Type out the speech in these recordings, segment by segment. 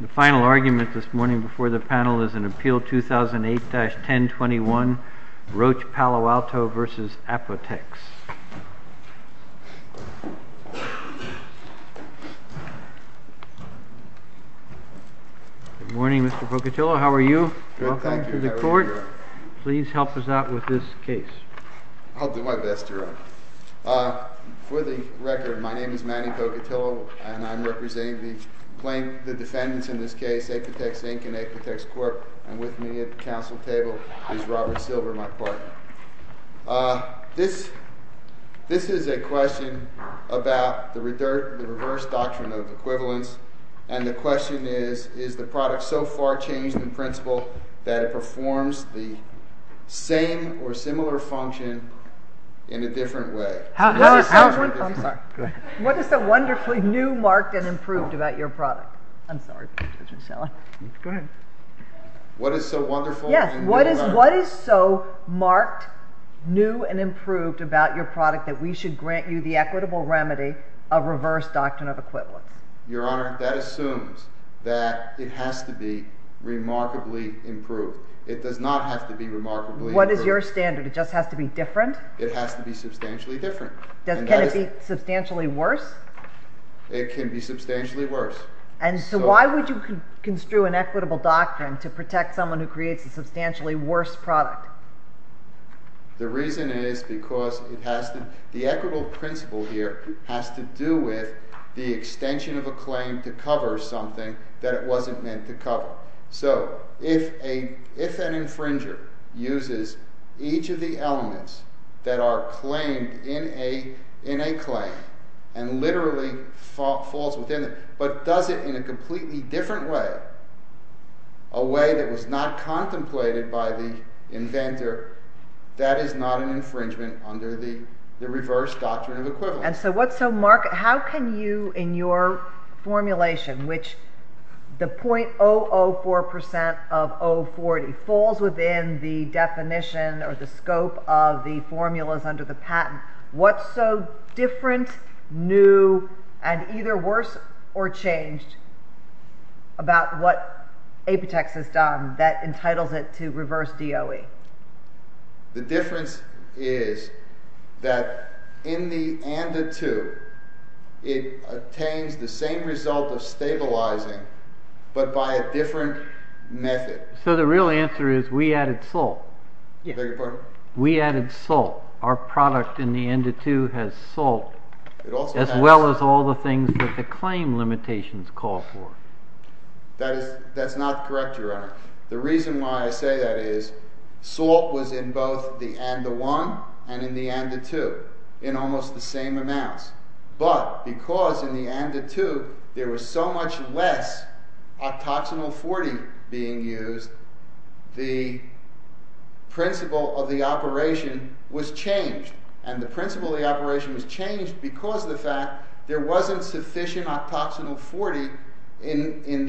The final argument this morning before the panel is in Appeal 2008-1021, Roche Palo Alto v. Apotex. Good morning, Mr. Pocatillo. How are you? Welcome to the court. Please help us out with this case. I'll do my best, Your Honor. For the record, my name is Manny Pocatillo, and I'm representing the defendants in this case, Apotex Inc. and Apotex Corp., and with me at the council table is Robert Silver, my partner. This is a question about the reverse doctrine of equivalence, and the question is, is the product so far changed in principle that it performs the same or similar function in a different way? What is so wonderfully new, marked, and improved about your product that we should grant you the equitable remedy of reverse doctrine of equivalence? Your Honor, that assumes that it has to be remarkably improved. It does not have to be remarkably improved. What is your standard? It just has to be different? It has to be substantially different. Can it be substantially worse? It can be substantially worse. And so why would you construe an equitable doctrine to protect someone who creates a substantially worse product? The reason is because the equitable principle here has to do with the extension of a claim to cover something that it wasn't meant to cover. So, if an infringer uses each of the elements that are claimed in a claim and literally falls within it, but does it in a completely different way, a way that was not contemplated by the inventor, that is not an infringement under the reverse doctrine of equivalence. And so, Mark, how can you, in your formulation, which the .004% of 040 falls within the definition or the scope of the formulas under the patent, what's so different, new, and either worse or changed about what Apitex has done that entitles it to reverse DOE? The difference is that in the ANDA 2, it attains the same result of stabilizing, but by a different method. So the real answer is we added salt. Beg your pardon? We added salt. Our product in the ANDA 2 has salt, as well as all the things that the claim limitations call for. That's not correct, Your Honor. The reason why I say that is salt was in both the ANDA 1 and in the ANDA 2 in almost the same amounts. But because in the ANDA 2 there was so much less octoxanol 40 being used, the principle of the operation was changed. And the principle of the operation was changed because of the fact there wasn't sufficient octoxanol 40 in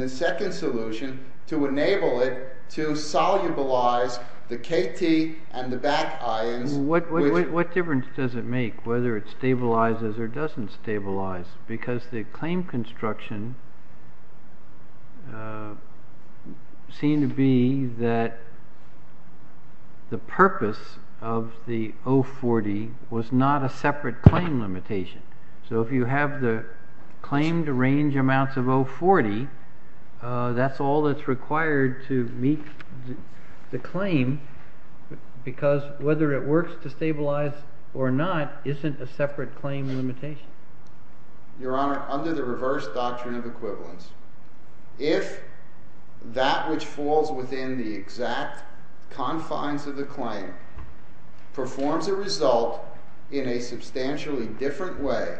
the second solution to enable it to solubilize the KT and the back ions. What difference does it make whether it stabilizes or doesn't stabilize? Because the claim construction seemed to be that the purpose of the 040 was not a separate claim limitation. So if you have the claimed range amounts of 040, that's all that's required to meet the claim, because whether it works to stabilize or not isn't a separate claim limitation. Your Honor, under the reverse doctrine of equivalence, if that which falls within the exact confines of the claim performs a result in a substantially different way,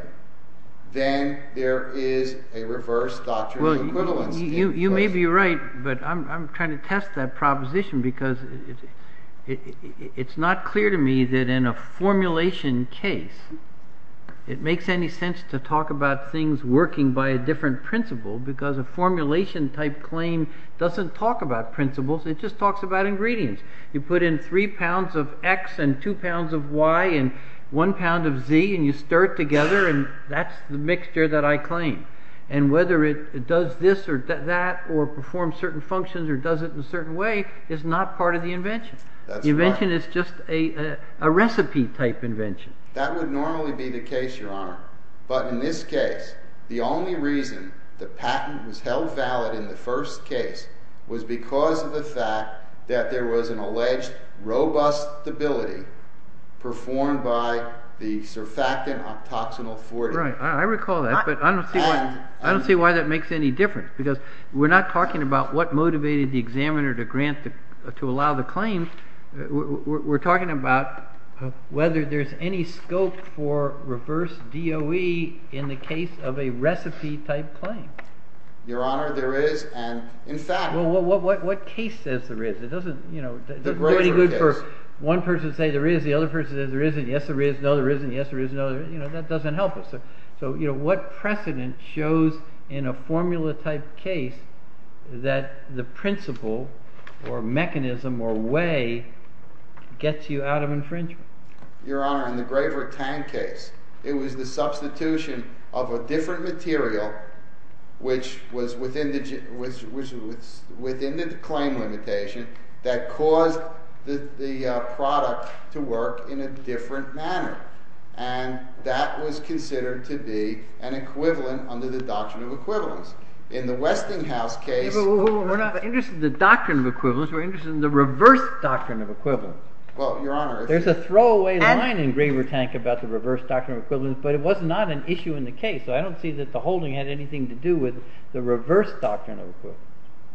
then there is a reverse doctrine of equivalence. You may be right, but I'm trying to test that proposition because it's not clear to me that in a formulation case it makes any sense to talk about things working by a different principle, because a formulation type claim doesn't talk about principles, it just talks about ingredients. You put in 3 pounds of X and 2 pounds of Y and 1 pound of Z and you stir it together and that's the mixture that I claim. And whether it does this or that or performs certain functions or does it in a certain way is not part of the invention. The invention is just a recipe type invention. That would normally be the case, Your Honor. But in this case, the only reason the patent was held valid in the first case was because of the fact that there was an alleged robust stability performed by the surfactant octoxenyl 40. Right. I recall that, but I don't see why that makes any difference, because we're not talking about what motivated the examiner to grant to allow the claim, we're talking about whether there's any scope for reverse DOE in the case of a recipe type claim. Your Honor, there is. Well, what case says there is? It doesn't do any good for one person to say there is, the other person says there isn't. Yes, there is. No, there isn't. Yes, there is. No, there isn't. That doesn't help us. So what precedent shows in a formula type case that the principle or mechanism or way gets you out of infringement? Your Honor, in the Graver-Tang case, it was the substitution of a different material, which was within the claim limitation, that caused the product to work in a different manner. And that was considered to be an equivalent under the doctrine of equivalence. In the Westinghouse case— We're not interested in the doctrine of equivalence. We're interested in the reverse doctrine of equivalence. Well, Your Honor— There's a throwaway line in Graver-Tang about the reverse doctrine of equivalence, but it was not an issue in the case. So I don't see that the holding had anything to do with the reverse doctrine of equivalence.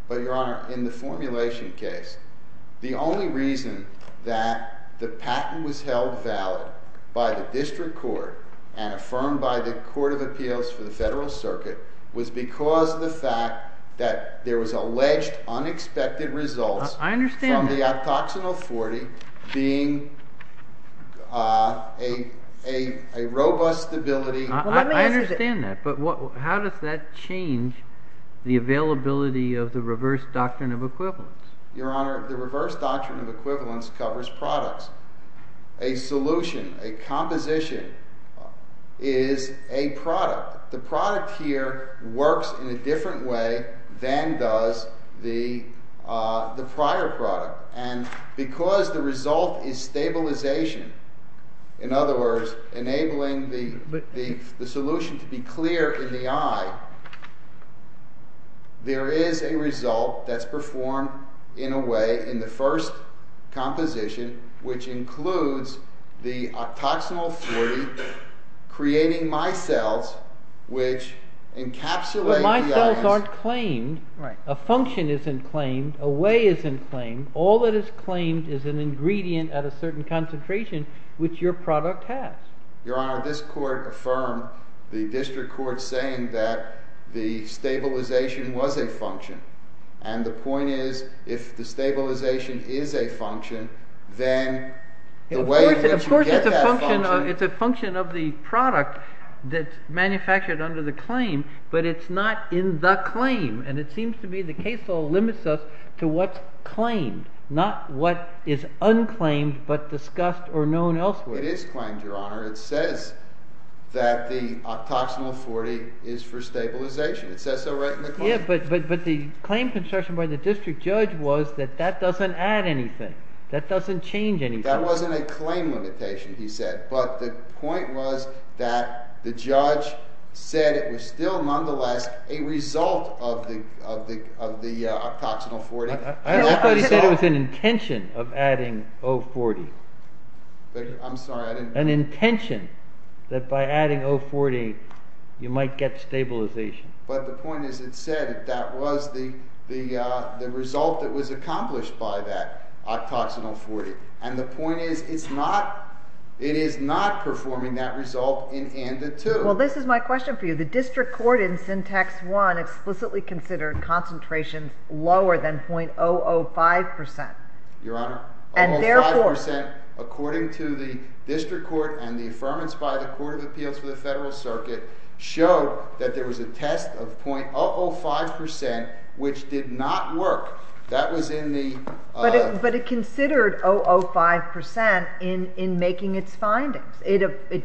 But, Your Honor, in the formulation case, the only reason that the patent was held valid by the district court and affirmed by the Court of Appeals for the Federal Circuit was because of the fact that there was alleged unexpected results— I understand that. —from the abdoxinal 40 being a robust ability— I understand that, but how does that change the availability of the reverse doctrine of equivalence? Your Honor, the reverse doctrine of equivalence covers products. A solution, a composition, is a product. The product here works in a different way than does the prior product. And because the result is stabilisation, in other words, enabling the solution to be clear in the eye, there is a result that's performed in a way in the first composition, which includes the abdoxinal 40 creating micelles which encapsulate the ions— —all that is claimed is an ingredient at a certain concentration which your product has. Your Honor, this Court affirmed the district court saying that the stabilisation was a function. And the point is, if the stabilisation is a function, then the way in which you get that function— —is not what is unclaimed but discussed or known elsewhere. It is claimed, Your Honor. It says that the abdoxinal 40 is for stabilisation. It says so right in the claim. Yeah, but the claim construction by the district judge was that that doesn't add anything. That doesn't change anything. That wasn't a claim limitation, he said. But the point was that the judge said it was still nonetheless a result of the abdoxinal 40. I thought he said it was an intention of adding O40. I'm sorry, I didn't— An intention that by adding O40 you might get stabilisation. But the point is, it said that that was the result that was accomplished by that abdoxinal 40. And the point is, it is not performing that result in ANDA 2. Well, this is my question for you. The district court in Syntax 1 explicitly considered concentration lower than 0.005%. Your Honor, 0.005% according to the district court and the affirmance by the Court of Appeals for the Federal Circuit showed that there was a test of 0.005% which did not work. That was in the— But it considered 0.005% in making its findings. It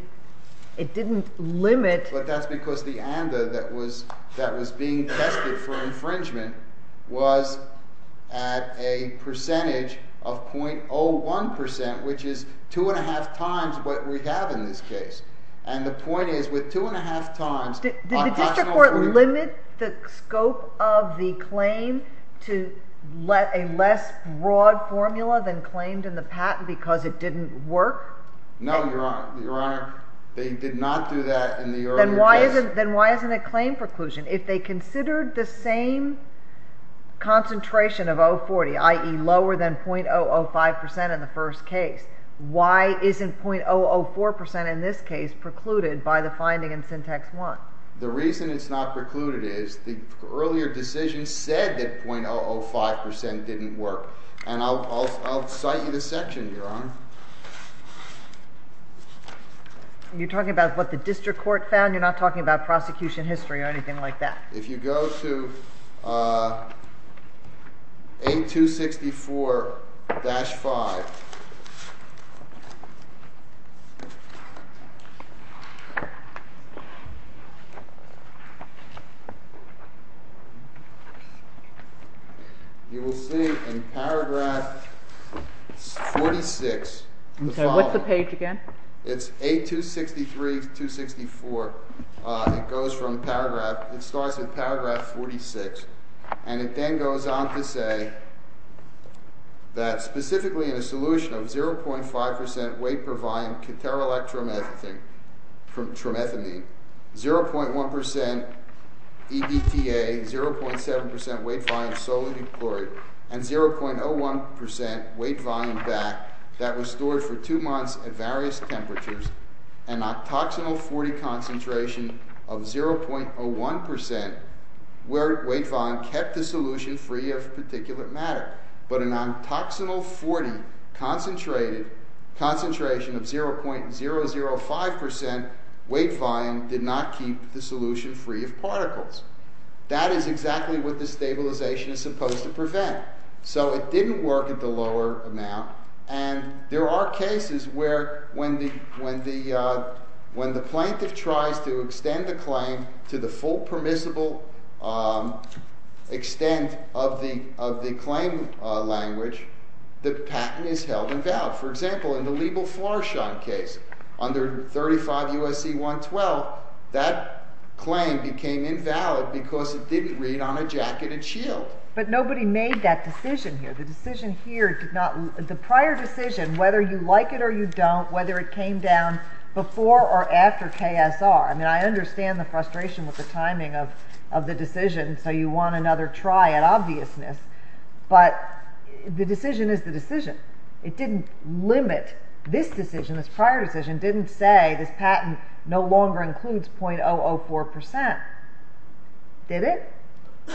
didn't limit— But that's because the ANDA that was being tested for infringement was at a percentage of 0.01%, which is 2.5 times what we have in this case. And the point is, with 2.5 times— Did the district court limit the scope of the claim to a less broad formula than claimed in the patent because it didn't work? No, Your Honor. Your Honor, they did not do that in the earlier test. Then why isn't a claim preclusion? If they considered the same concentration of 0.40, i.e., lower than 0.005% in the first case, why isn't 0.004% in this case precluded by the finding in Syntax 1? The reason it's not precluded is the earlier decision said that 0.005% didn't work. And I'll cite you the section, Your Honor. You're talking about what the district court found? You're not talking about prosecution history or anything like that? If you go to 8264-5, you will see in paragraph 46, the following— Okay. What's the page again? It's 8263-264. It goes from paragraph—it starts with paragraph 46, and it then goes on to say that specifically in a solution of 0.5% weight-per-volume caterelectromethamine, 0.1% EDTA, 0.7% weight-volume solute chloride, and 0.01% weight-volume BAC that was stored for two months at various temperatures, an ontoxinal 40 concentration of 0.01% weight-volume kept the solution free of particulate matter. But an ontoxinal 40 concentration of 0.005% weight-volume did not keep the solution free of particles. That is exactly what the stabilization is supposed to prevent. So it didn't work at the lower amount. And there are cases where when the plaintiff tries to extend the claim to the full permissible extent of the claim language, the patent is held invalid. For example, in the Liebel-Flarschein case under 35 U.S.C. 112, that claim became invalid because it didn't read on a jacketed shield. But nobody made that decision here. The prior decision, whether you like it or you don't, whether it came down before or after KSR. I mean, I understand the frustration with the timing of the decision, so you want another try at obviousness. But the decision is the decision. It didn't limit this decision, this prior decision. It didn't say this patent no longer includes 0.004%. Did it?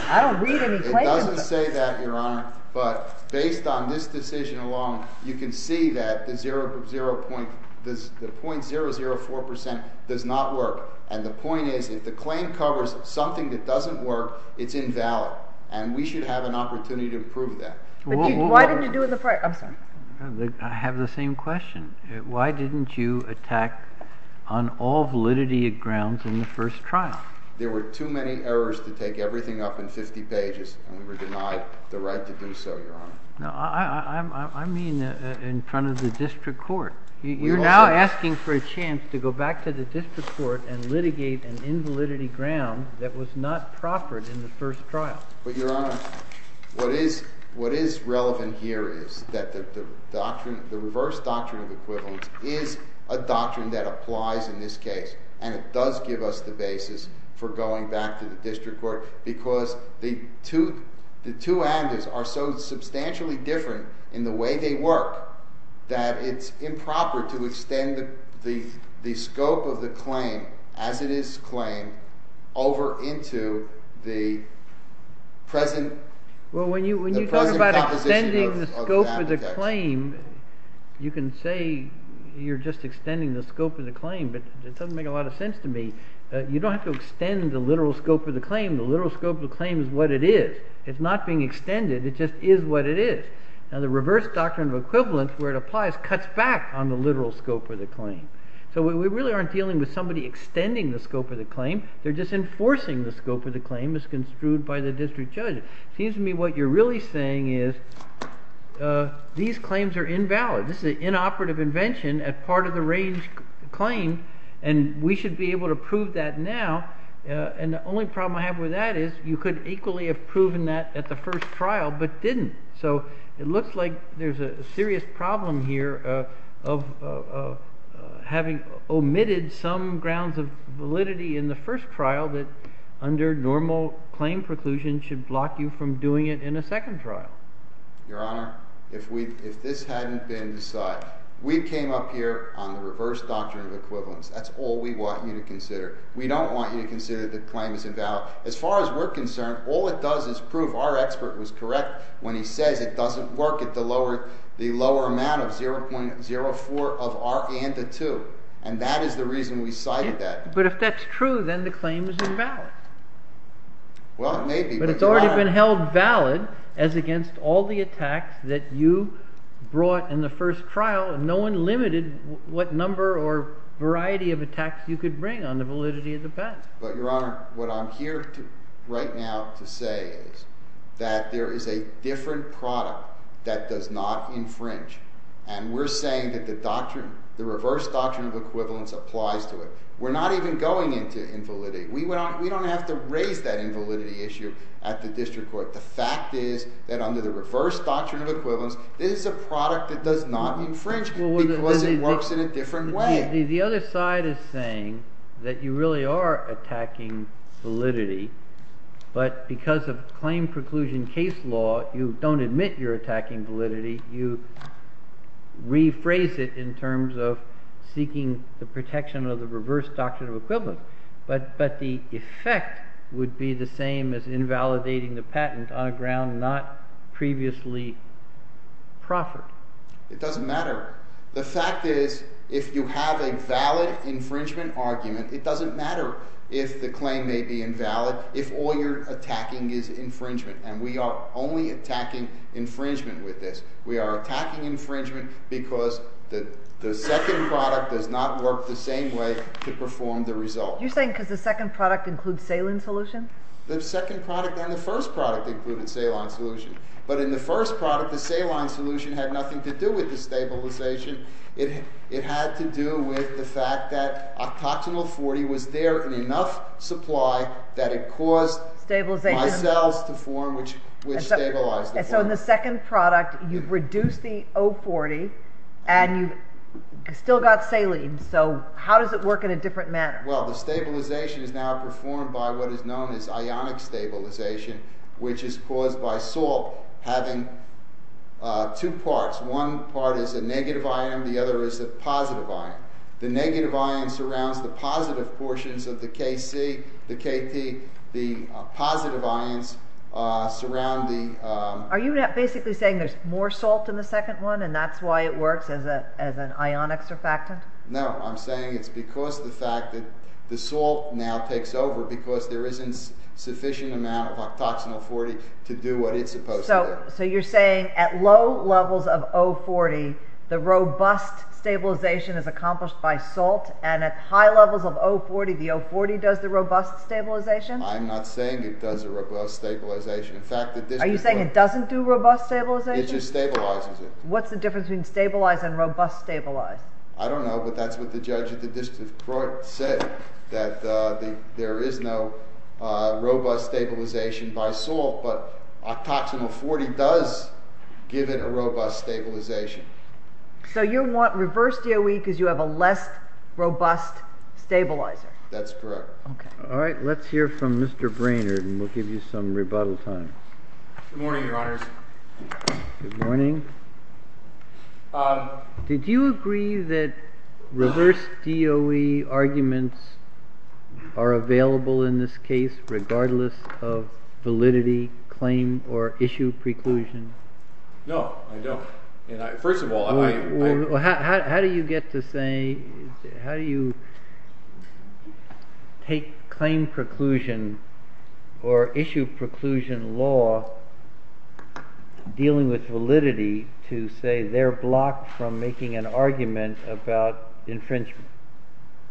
I don't read any claims. It doesn't say that, Your Honor. But based on this decision alone, you can see that the 0.004% does not work. And the point is if the claim covers something that doesn't work, it's invalid. And we should have an opportunity to prove that. Why didn't you do it the prior? I'm sorry. I have the same question. Why didn't you attack on all validity grounds in the first trial? There were too many errors to take everything up in 50 pages, and we were denied the right to do so, Your Honor. No, I mean in front of the district court. You're now asking for a chance to go back to the district court and litigate an invalidity ground that was not proffered in the first trial. But, Your Honor, what is relevant here is that the reverse doctrine of equivalence is a doctrine that applies in this case. And it does give us the basis for going back to the district court because the two avenues are so substantially different in the way they work that it's improper to extend the scope of the claim as it is claimed over into the present composition of the application. You can say you're just extending the scope of the claim, but it doesn't make a lot of sense to me. You don't have to extend the literal scope of the claim. The literal scope of the claim is what it is. It's not being extended. It just is what it is. Now, the reverse doctrine of equivalence, where it applies, cuts back on the literal scope of the claim. So we really aren't dealing with somebody extending the scope of the claim. They're just enforcing the scope of the claim as construed by the district judge. It seems to me what you're really saying is these claims are invalid. This is an inoperative invention as part of the range claim, and we should be able to prove that now. And the only problem I have with that is you could equally have proven that at the first trial but didn't. So it looks like there's a serious problem here of having omitted some grounds of validity in the first trial that under normal claim preclusion should block you from doing it in a second trial. Your Honor, if this hadn't been decided, we came up here on the reverse doctrine of equivalence. That's all we want you to consider. We don't want you to consider that the claim is invalid. As far as we're concerned, all it does is prove our expert was correct when he says it doesn't work at the lower amount of 0.04 of R and the 2. And that is the reason we cited that. But if that's true, then the claim is invalid. Well, it may be. But it's already been held valid as against all the attacks that you brought in the first trial, and no one limited what number or variety of attacks you could bring on the validity of the patent. But, Your Honor, what I'm here right now to say is that there is a different product that does not infringe. And we're saying that the reverse doctrine of equivalence applies to it. We're not even going into invalidity. We don't have to raise that invalidity issue at the district court. The fact is that under the reverse doctrine of equivalence, this is a product that does not infringe because it works in a different way. The other side is saying that you really are attacking validity. But because of claim preclusion case law, you don't admit you're attacking validity. You rephrase it in terms of seeking the protection of the reverse doctrine of equivalence. But the effect would be the same as invalidating the patent on a ground not previously proffered. It doesn't matter. The fact is if you have a valid infringement argument, it doesn't matter if the claim may be invalid if all you're attacking is infringement. And we are only attacking infringement with this. We are attacking infringement because the second product does not work the same way to perform the result. You're saying because the second product includes saline solution? The second product and the first product included saline solution. But in the first product, the saline solution had nothing to do with the stabilization. It had to do with the fact that octoxanil 40 was there in enough supply that it caused my cells to form, which stabilized the form. So in the second product, you've reduced the O40 and you've still got saline. So how does it work in a different manner? Well, the stabilization is now performed by what is known as ionic stabilization, which is caused by salt having two parts. One part is a negative ion, the other is a positive ion. The negative ion surrounds the positive portions of the KC, the KT. The positive ions surround the... Are you basically saying there's more salt in the second one and that's why it works as an ionic surfactant? No, I'm saying it's because of the fact that the salt now takes over because there isn't a sufficient amount of octoxanil 40 to do what it's supposed to do. So you're saying at low levels of O40, the robust stabilization is accomplished by salt and at high levels of O40, the O40 does the robust stabilization? I'm not saying it does the robust stabilization. In fact... Are you saying it doesn't do robust stabilization? It just stabilizes it. What's the difference between stabilized and robust stabilized? I don't know, but that's what the judge at the district court said, that there is no robust stabilization by salt, but octoxanil 40 does give it a robust stabilization. So you want reverse DOE because you have a less robust stabilizer? That's correct. Okay. All right, let's hear from Mr. Brainard and we'll give you some rebuttal time. Good morning, your honors. Good morning. Did you agree that reverse DOE arguments are available in this case regardless of validity, claim, or issue preclusion? No, I don't. First of all... How do you get to say, how do you take claim preclusion or issue preclusion law dealing with validity to say they're blocked from making an argument about infringement?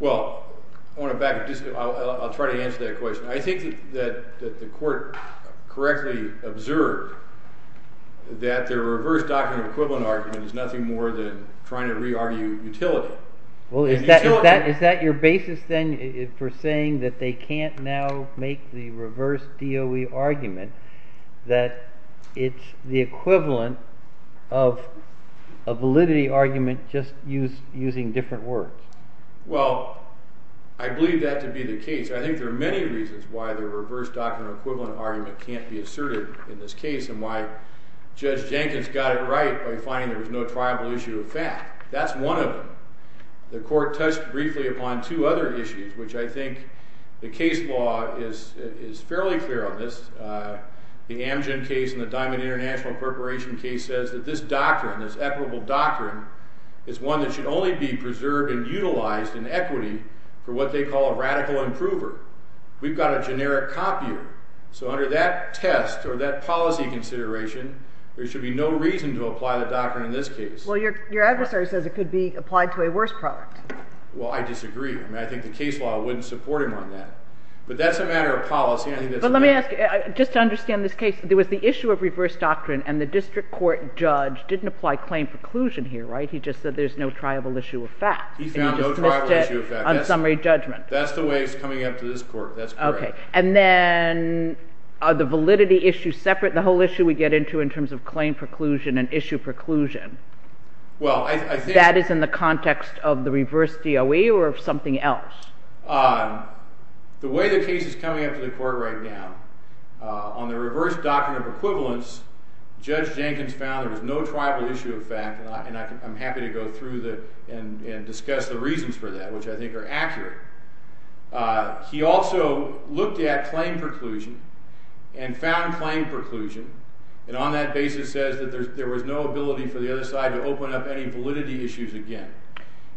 Well, I want to back up. I'll try to answer that question. I think that the court correctly observed that the reverse document equivalent argument is nothing more than trying to re-argue utility. Well, is that your basis then for saying that they can't now make the reverse DOE argument, that it's the equivalent of a validity argument just using different words? Well, I believe that to be the case. I think there are many reasons why the reverse document equivalent argument can't be asserted in this case and why Judge Jenkins got it right by finding there was no triable issue of fact. That's one of them. The court touched briefly upon two other issues, which I think the case law is fairly clear on this. The Amgen case and the Diamond International Corporation case says that this doctrine, this equitable doctrine, is one that should only be preserved and utilized in equity for what they call a radical improver. We've got a generic copier, so under that test or that policy consideration, there should be no reason to apply the doctrine in this case. Well, your adversary says it could be applied to a worse product. Well, I disagree. I think the case law wouldn't support him on that. But that's a matter of policy. But let me ask you, just to understand this case, there was the issue of reverse doctrine and the district court judge didn't apply claim preclusion here, right? He just said there's no triable issue of fact. He found no triable issue of fact. On summary judgment. That's the way it's coming up to this court. That's correct. And then are the validity issues separate? The whole issue we get into in terms of claim preclusion and issue preclusion. That is in the context of the reverse DOE or something else? The way the case is coming up to the court right now, on the reverse doctrine of equivalence, Judge Jenkins found there was no triable issue of fact. And I'm happy to go through and discuss the reasons for that, which I think are accurate. He also looked at claim preclusion and found claim preclusion. And on that basis says that there was no ability for the other side to open up any validity issues again.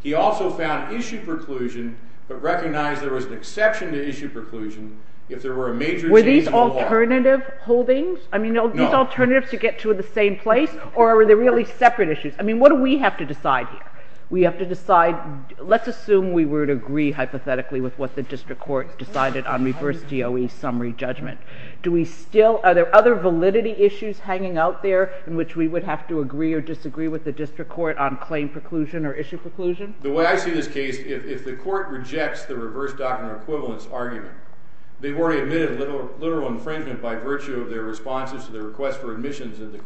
He also found issue preclusion, but recognized there was an exception to issue preclusion if there were a major change in the law. Were these alternative holdings? No. I mean, are these alternatives to get to the same place or are they really separate issues? I mean, what do we have to decide here? We have to decide, let's assume we would agree hypothetically with what the district court decided on reverse DOE summary judgment. Do we still, are there other validity issues hanging out there in which we would have to agree or disagree with the district court on claim preclusion or issue preclusion? The way I see this case, if the court rejects the reverse doctrine of equivalence argument, they've already admitted literal infringement by virtue of their responses to the request for admissions in the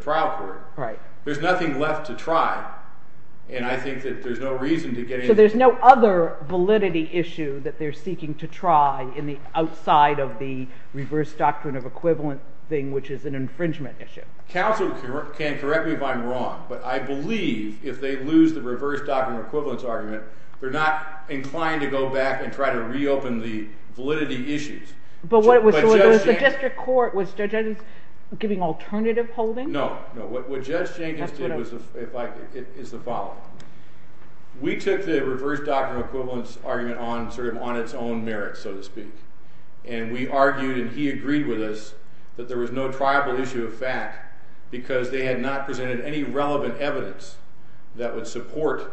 trial court. Right. There's nothing left to try and I think that there's no reason to get into this. So there's no other validity issue that they're seeking to try in the outside of the reverse doctrine of equivalent thing, which is an infringement issue? Counsel can correct me if I'm wrong, but I believe if they lose the reverse doctrine of equivalence argument, they're not inclined to go back and try to reopen the validity issues. But was the district court, was Judge Jenkins giving alternative holdings? No. What Judge Jenkins did is the following. We took the reverse doctrine of equivalence argument on its own merits, so to speak. And we argued and he agreed with us that there was no triable issue of fact because they had not presented any relevant evidence that would support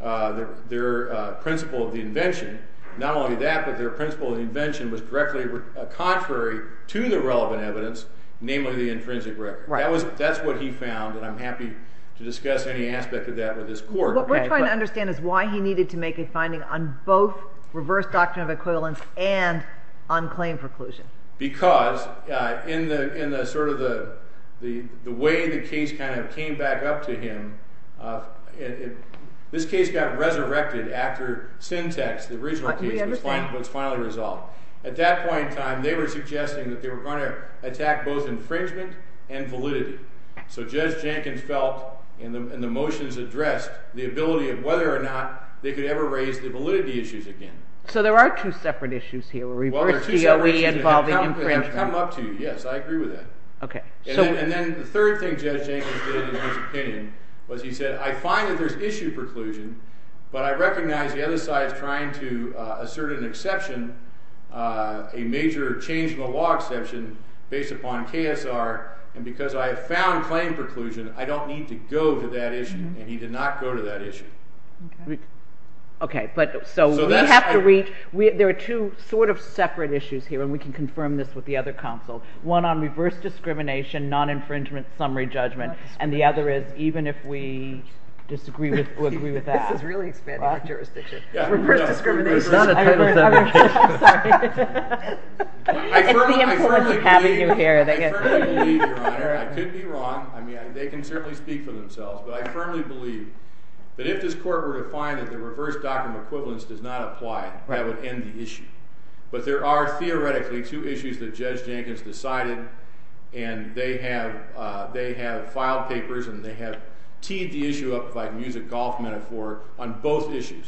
their principle of the invention. Not only that, but their principle of the invention was directly contrary to the relevant evidence, namely the intrinsic record. Right. That's what he found and I'm happy to discuss any aspect of that with this court. What we're trying to understand is why he needed to make a finding on both reverse doctrine of equivalence and on claim preclusion. Because in the sort of the way the case kind of came back up to him, this case got resurrected after Syntex, the original case, was finally resolved. At that point in time, they were suggesting that they were going to attack both infringement and validity. So Judge Jenkins felt in the motions addressed the ability of whether or not they could ever raise the validity issues again. So there are two separate issues here, reverse DOE involving infringement. Well, there are two separate issues and they've come up to you. Yes, I agree with that. And then the third thing Judge Jenkins did in his opinion was he said, I find that there's issue preclusion, but I recognize the other side is trying to assert an exception, a major change in the law exception based upon KSR. And because I have found claim preclusion, I don't need to go to that issue. And he did not go to that issue. Okay, but so we have to reach, there are two sort of separate issues here and we can confirm this with the other counsel. One on reverse discrimination, non-infringement, summary judgment. And the other is even if we disagree or agree with that. This is really expanding my jurisdiction. Reverse discrimination, non-infringement, summary judgment. I'm sorry. It's the influence of having you here that gets me. I firmly believe, Your Honor, I could be wrong. I mean, they can certainly speak for themselves. But I firmly believe that if this court were to find that the reverse document equivalence does not apply, that would end the issue. But there are theoretically two issues that Judge Jenkins decided and they have filed papers and they have teed the issue up, if I can use a golf metaphor, on both issues.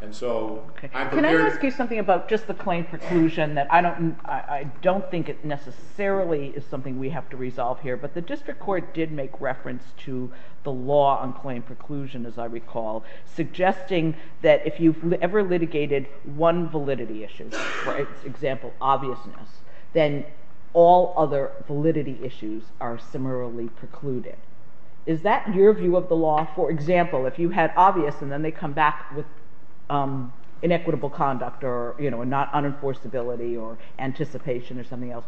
And so I'm prepared. Can I ask you something about just the claim preclusion? I don't think it necessarily is something we have to resolve here, but the district court did make reference to the law on claim preclusion, as I recall, suggesting that if you've ever litigated one validity issue, for example, obviousness, then all other validity issues are similarly precluded. Is that your view of the law? For example, if you had obvious and then they come back with inequitable conduct or not unenforceability or anticipation or something else,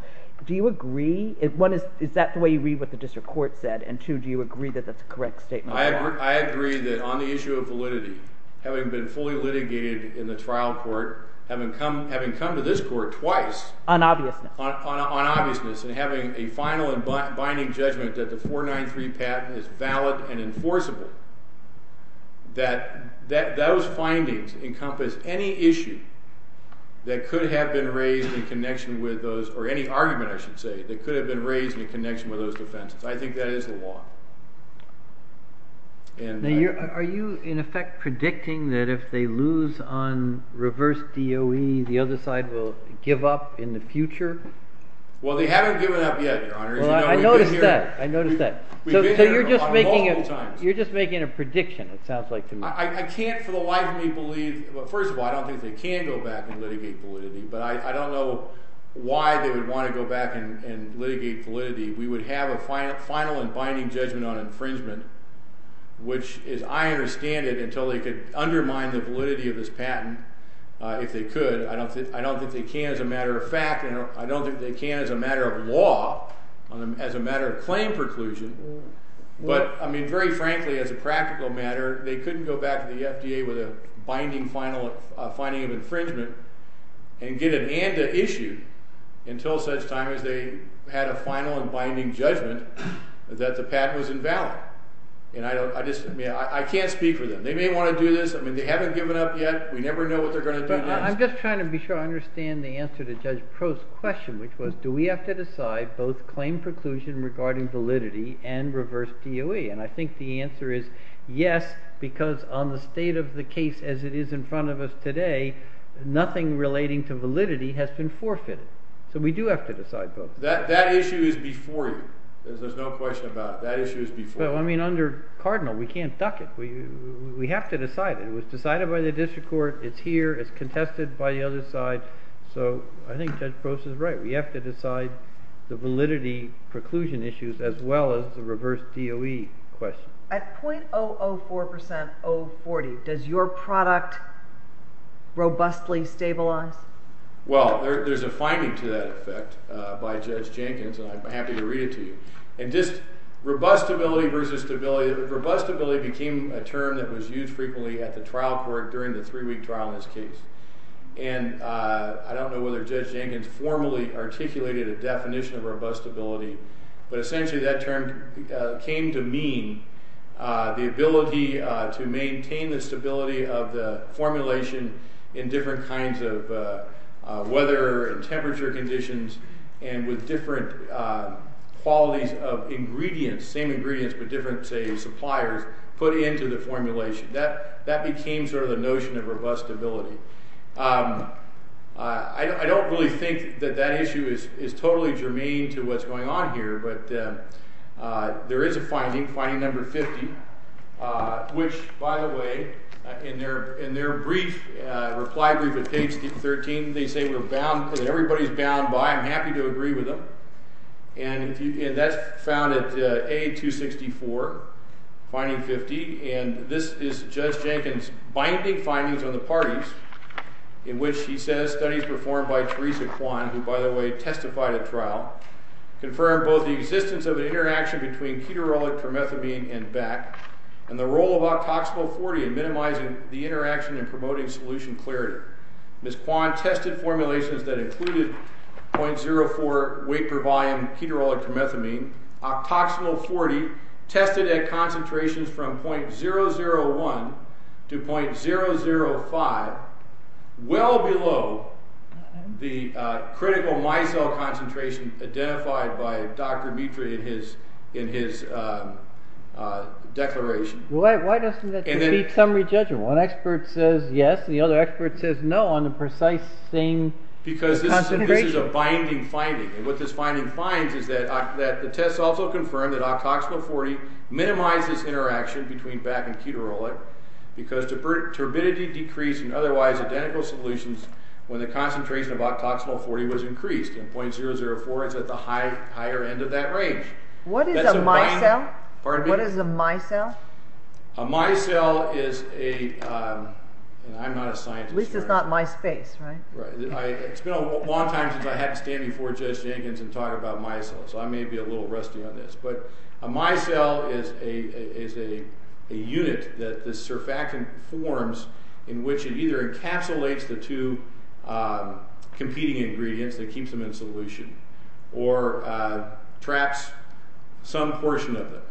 do you agree? One, is that the way you read what the district court said? And two, do you agree that that's a correct statement? I agree that on the issue of validity, having been fully litigated in the trial court, having come to this court twice on obviousness and having a final and binding judgment that the 493 patent is valid and enforceable, that those findings encompass any issue that could have been raised in connection with those, or any argument, I should say, that could have been raised in connection with those offenses. I think that is the law. Are you, in effect, predicting that if they lose on reverse DOE, the other side will give up in the future? Well, they haven't given up yet, Your Honor. I noticed that. So you're just making a prediction, it sounds like to me. I can't for the life of me believe, well, first of all, I don't think they can go back and litigate validity, but I don't know why they would want to go back and litigate validity. We would have a final and binding judgment on infringement, which is, I understand it, until they could undermine the validity of this patent, if they could. I don't think they can as a matter of fact, and I don't think they can as a matter of law, as a matter of claim preclusion. But, I mean, very frankly, as a practical matter, they couldn't go back to the FDA with a binding finding of infringement and get an ANDA issued until such time as they had a final and binding judgment that the patent was invalid. I can't speak for them. They may want to do this. They haven't given up yet. We never know what they're going to do next. I'm just trying to be sure I understand the answer to Judge Pro's question, which was, do we have to decide both claim preclusion regarding validity and reverse DOE? And I think the answer is yes, because on the state of the case as it is in front of us today, nothing relating to validity has been forfeited. So we do have to decide both. That issue is before you. There's no question about it. That issue is before you. Well, I mean, under Cardinal, we can't duck it. We have to decide it. It was decided by the district court. It's here. It's contested by the other side. So I think Judge Pro's is right. We have to decide the validity preclusion issues as well as the reverse DOE question. At 0.004% 040, does your product robustly stabilize? Well, there's a finding to that effect by Judge Jenkins, and I'm happy to read it to you. And just robustability versus stability, robustability became a term that was used frequently at the trial court during the three-week trial in this case. And I don't know whether Judge Jenkins formally articulated a definition of robustability, but essentially that term came to mean the ability to maintain the stability of the formulation in different kinds of weather and temperature conditions and with different qualities of ingredients, same ingredients but different, say, suppliers, put into the formulation. That became sort of the notion of robustability. I don't really think that that issue is totally germane to what's going on here, but there is a finding, finding number 50, which, by the way, in their brief, reply brief at page 13, they say we're bound because everybody's bound by. I'm happy to agree with them. And that's found at A264, finding 50. And this is Judge Jenkins' binding findings on the parties in which he says studies performed by Teresa Kwan, who, by the way, testified at trial, confirmed both the existence of an interaction between keterolic promethamine and BAC and the role of octoxinol-40 in minimizing the interaction and promoting solution clarity. Ms. Kwan tested formulations that included 0.04 weight per volume keterolic promethamine. Octoxinol-40 tested at concentrations from 0.001 to 0.005, well below the critical micelle concentration identified by Dr. Mitra in his declaration. Why doesn't that defeat summary judgment? One expert says yes and the other expert says no on the precise same concentration. Because this is a binding finding. What this finding finds is that the tests also confirm that octoxinol-40 minimizes interaction between BAC and keterolic because turbidity decreased in otherwise identical solutions when the concentration of octoxinol-40 was increased. And 0.004 is at the higher end of that range. What is a micelle? Pardon me? What is a micelle? A micelle is a, and I'm not a scientist. At least it's not MySpace, right? It's been a long time since I had to stand before Judge Jenkins and talk about micelles, so I may be a little rusty on this. But a micelle is a unit that the surfactant forms in which it either encapsulates the two competing ingredients that keeps them in solution or traps some portion of them.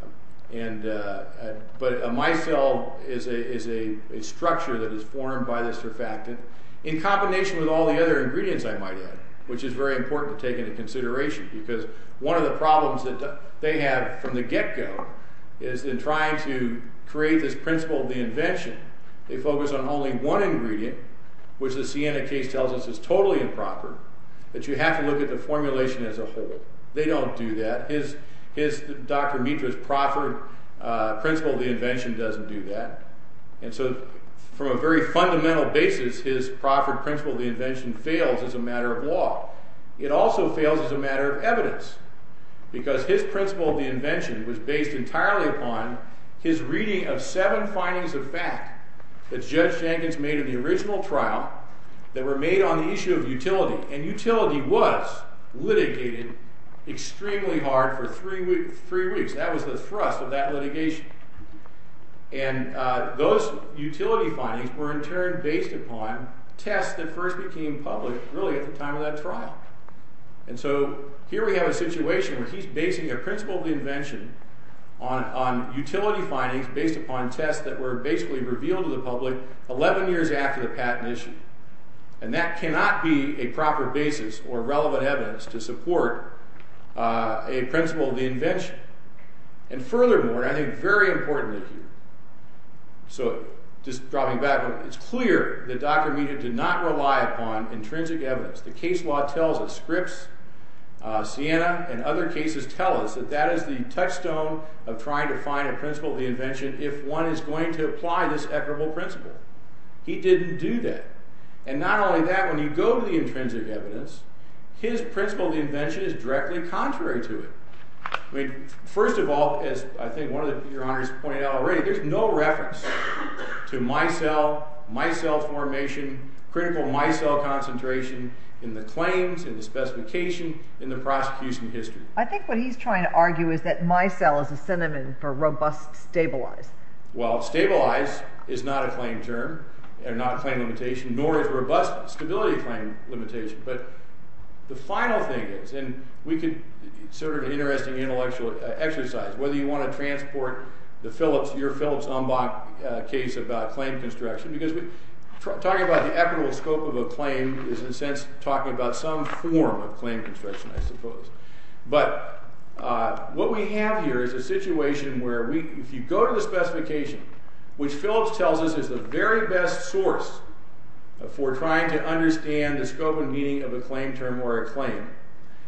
But a micelle is a structure that is formed by the surfactant in combination with all the other ingredients I might add, which is very important to take into consideration because one of the problems that they have from the get-go is in trying to create this principle of the invention, they focus on only one ingredient, which the Sienna case tells us is totally improper, that you have to look at the formulation as a whole. They don't do that. Dr. Mitra's proffered principle of the invention doesn't do that. And so, from a very fundamental basis, his proffered principle of the invention fails as a matter of law. It also fails as a matter of evidence because his principle of the invention was based entirely upon his reading of seven findings of fact that Judge Jenkins made in the original trial that were made on the issue of utility. And utility was litigated extremely hard for three weeks. That was the thrust of that litigation. And those utility findings were in turn based upon tests that first became public really at the time of that trial. And so, here we have a situation where he's basing a principle of the invention on utility findings based upon tests that were basically revealed to the public 11 years after the patent issue. And that cannot be a proper basis or relevant evidence to support a principle of the invention. And furthermore, and I think very importantly here, so just dropping back a little bit, it's clear that Dr. Mitra did not rely upon intrinsic evidence. The case law tells us, Scripps, Sienna, and other cases tell us that that is the touchstone of trying to find a principle of the invention if one is going to apply this equitable principle. He didn't do that. And not only that, when you go to the intrinsic evidence, his principle of the invention is directly contrary to it. First of all, as I think one of your honorees pointed out already, there's no reference to micelle, micelle formation, critical micelle concentration in the claims, in the specification, in the prosecution history. I think what he's trying to argue is that micelle is a synonym for robust stabilized. Well, stabilized is not a claim term, not a claim limitation, nor is robust a stability claim limitation. But the final thing is, and we could, sort of an interesting intellectual exercise, whether you want to transport the Phillips, your Phillips-Umbach case about claim construction, because talking about the equitable scope of a claim is in a sense talking about some form of claim construction, I suppose. But what we have here is a situation where we, if you go to the specification, which Phillips tells us is the very best source for trying to understand the scope and meaning of a claim term or a claim.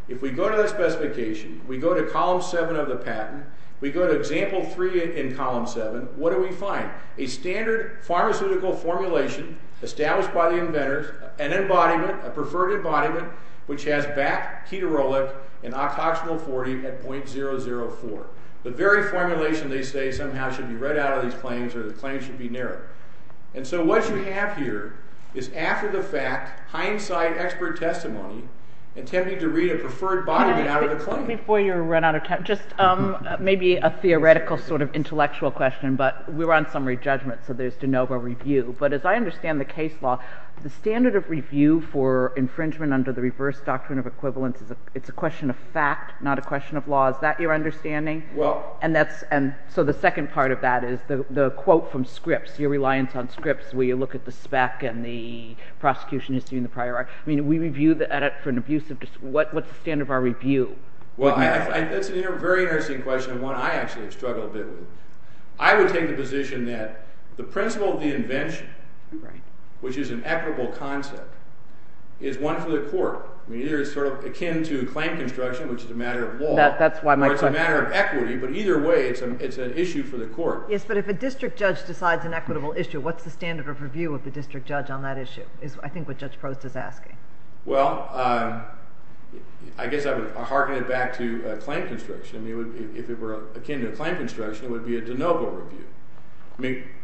If we go to the specification, we go to column 7 of the patent, we go to example 3 in column 7, what do we find? A standard pharmaceutical formulation established by the inventors, an embodiment, a preferred embodiment, which has BAC, keterolic, and octoxinil-40 at .004. The very formulation, they say, somehow should be read out of these claims, or the claims should be narrowed. And so what you have here is after the fact, hindsight, expert testimony, attempting to read a preferred embodiment out of the claim. Before you run out of time, just maybe a theoretical sort of intellectual question, but we're on summary judgment, so there's de novo review. But as I understand the case law, the standard of review for infringement under the reverse doctrine of equivalence, it's a question of fact, not a question of law. Is that your understanding? And so the second part of that is the quote from Scripps, your reliance on Scripps, where you look at the spec and the prosecution is doing the prior art. I mean, we review the edit for an abusive... What's the standard of our review? Well, that's a very interesting question and one I actually struggle a bit with. I would take the position that the principle of the invention, which is an equitable concept, is one for the court. I mean, either it's sort of akin to claim construction, which is a matter of law, or it's a matter of equity, but either way, it's an issue for the court. Yes, but if a district judge decides an equitable issue, what's the standard of review of the district judge on that issue is, I think, what Judge Prost is asking. Well, I guess I would hearken it back to claim construction. If it were akin to claim construction, it would be a de novo review.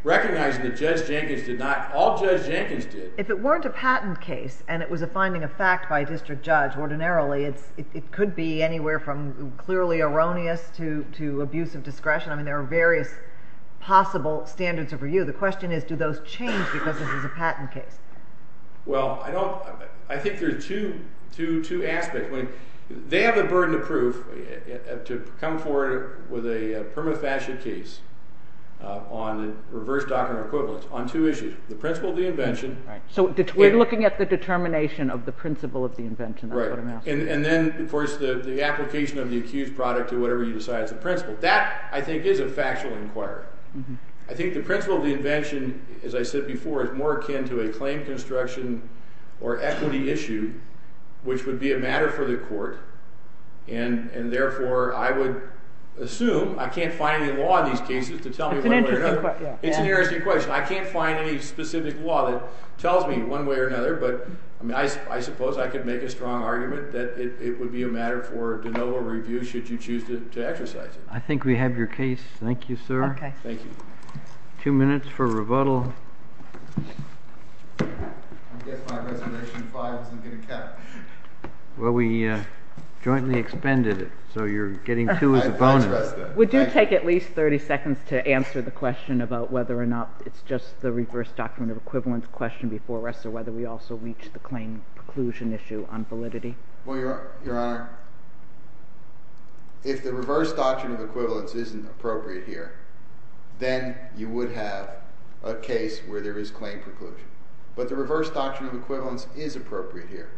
Recognizing that Judge Jenkins did not... All Judge Jenkins did... If it weren't a patent case and it was a finding of fact by a district judge, ordinarily it could be anywhere from clearly erroneous to abuse of discretion. I mean, there are various possible standards of review. The question is, do those change because this is a patent case? Well, I don't... I think there are two aspects. They have the burden of proof to come forward with a permafasciate case on reverse doctrinal equivalence on two issues. The principle of the invention... So we're looking at the determination of the principle of the invention, that's what I'm asking. And then, of course, the application of the accused product to whatever you decide is the principle. That, I think, is a factual inquiry. I think the principle of the invention, as I said before, is more akin to a claim construction or equity issue, which would be a matter for the court, and therefore I would assume... I can't find any law in these cases to tell me one way or another. It's an interesting question. I can't find any specific law that tells me one way or another, but I suppose I could make a strong argument that it would be a matter for de novo review should you choose to exercise it. I think we have your case. Thank you, sir. Thank you. Two minutes for rebuttal. I guess my Reservation 5 isn't going to count. Well, we jointly expended it, so you're getting two as a bonus. We do take at least 30 seconds to answer the question about whether or not it's just the reverse doctrinal equivalence question before arrest, or whether we also reach the claim preclusion issue on validity. Well, Your Honor, if the reverse doctrinal equivalence isn't appropriate here, then you would have a case where there is claim preclusion. But the reverse doctrinal equivalence is appropriate here.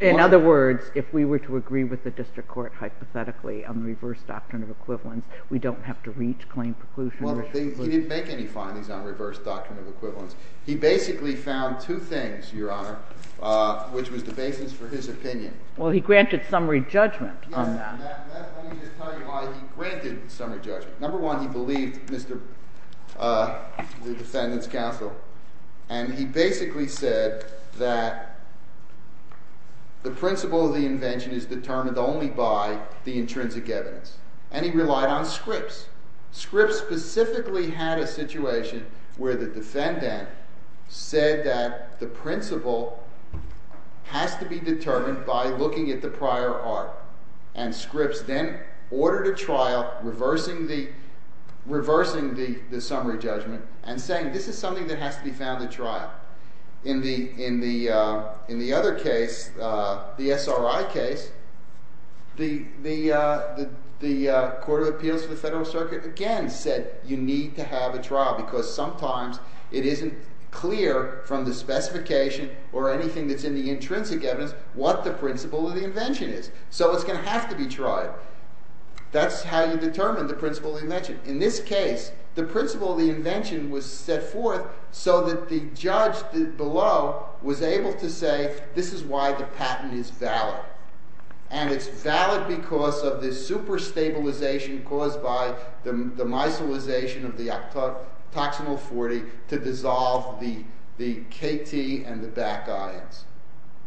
In other words, if we were to agree with the district court hypothetically on the reverse doctrinal equivalence, we don't have to reach claim preclusion? Well, he didn't make any findings on reverse doctrinal equivalence. He basically found two things, Your Honor, which was the basis for his opinion. Well, he granted summary judgment on that. Yes, and let me just tell you why he granted summary judgment. Number one, he believed the defendant's counsel. And he basically said that the principle of the invention is determined only by the intrinsic evidence. And he relied on scripts. Scripts specifically had a situation where the defendant said that the principle has to be determined by looking at the prior art. And scripts then ordered a trial reversing the summary judgment and saying, this is something that has to be found at trial. In the other case, the SRI case, the Court of Appeals for the Federal Circuit, again, said you need to have a trial because sometimes it isn't clear from the specification or anything that's in the intrinsic evidence what the principle of the invention is. So it's going to have to be tried. That's how you determine the principle of the invention. In this case, the principle of the invention was set forth so that the judge below was able to say, this is why the patent is valid. And it's valid because of the super stabilization caused by the mycelization of the toxinal 40 to dissolve the KT and the back ions.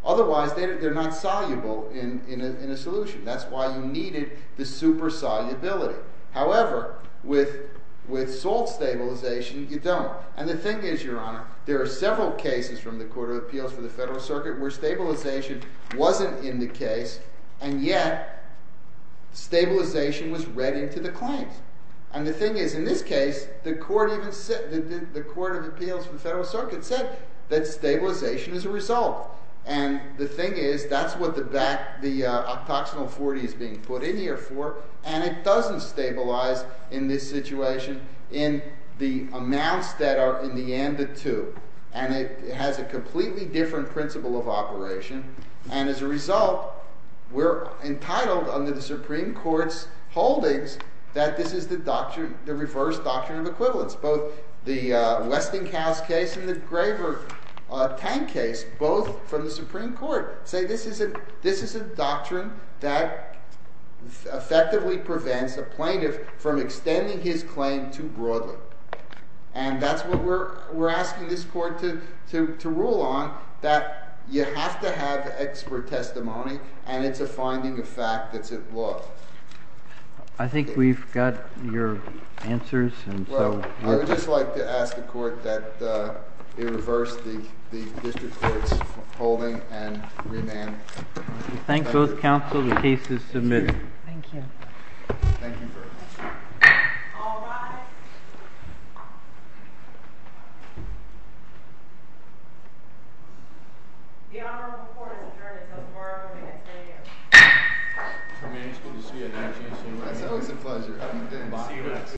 Otherwise, they're not soluble in a solution. That's why you needed the super solubility. However, with salt stabilization, you don't. And the thing is, Your Honor, there are several cases from the Court of Appeals for the Federal Circuit where stabilization wasn't in the case. And yet, stabilization was read into the claims. And the thing is, in this case, the Court of Appeals for the Federal Circuit said that stabilization is a result. And the thing is, that's what the octoxinal 40 is being put in here for, and it doesn't stabilize in this situation in the amounts that are in the and the to. And it has a completely different principle of operation. And as a result, we're entitled under the Supreme Court's holdings that this is the reverse doctrine of equivalence. Both the Westinghouse case and the Graver Tank case, both from the Supreme Court, say this is a doctrine that effectively prevents a plaintiff from extending his claim too broadly. And that's what we're asking this court to rule on, that you have to have expert testimony, and it's a finding of fact that's it was. I think we've got your answers. Well, I would just like to ask the court that it reverse the district court's holding and remand. We thank both counsel. The case is submitted. Thank you. Thank you very much. All rise. The honorable court has adjourned until tomorrow morning at 10 a.m. Commander, it's good to see you again. It's always a pleasure. See you next time.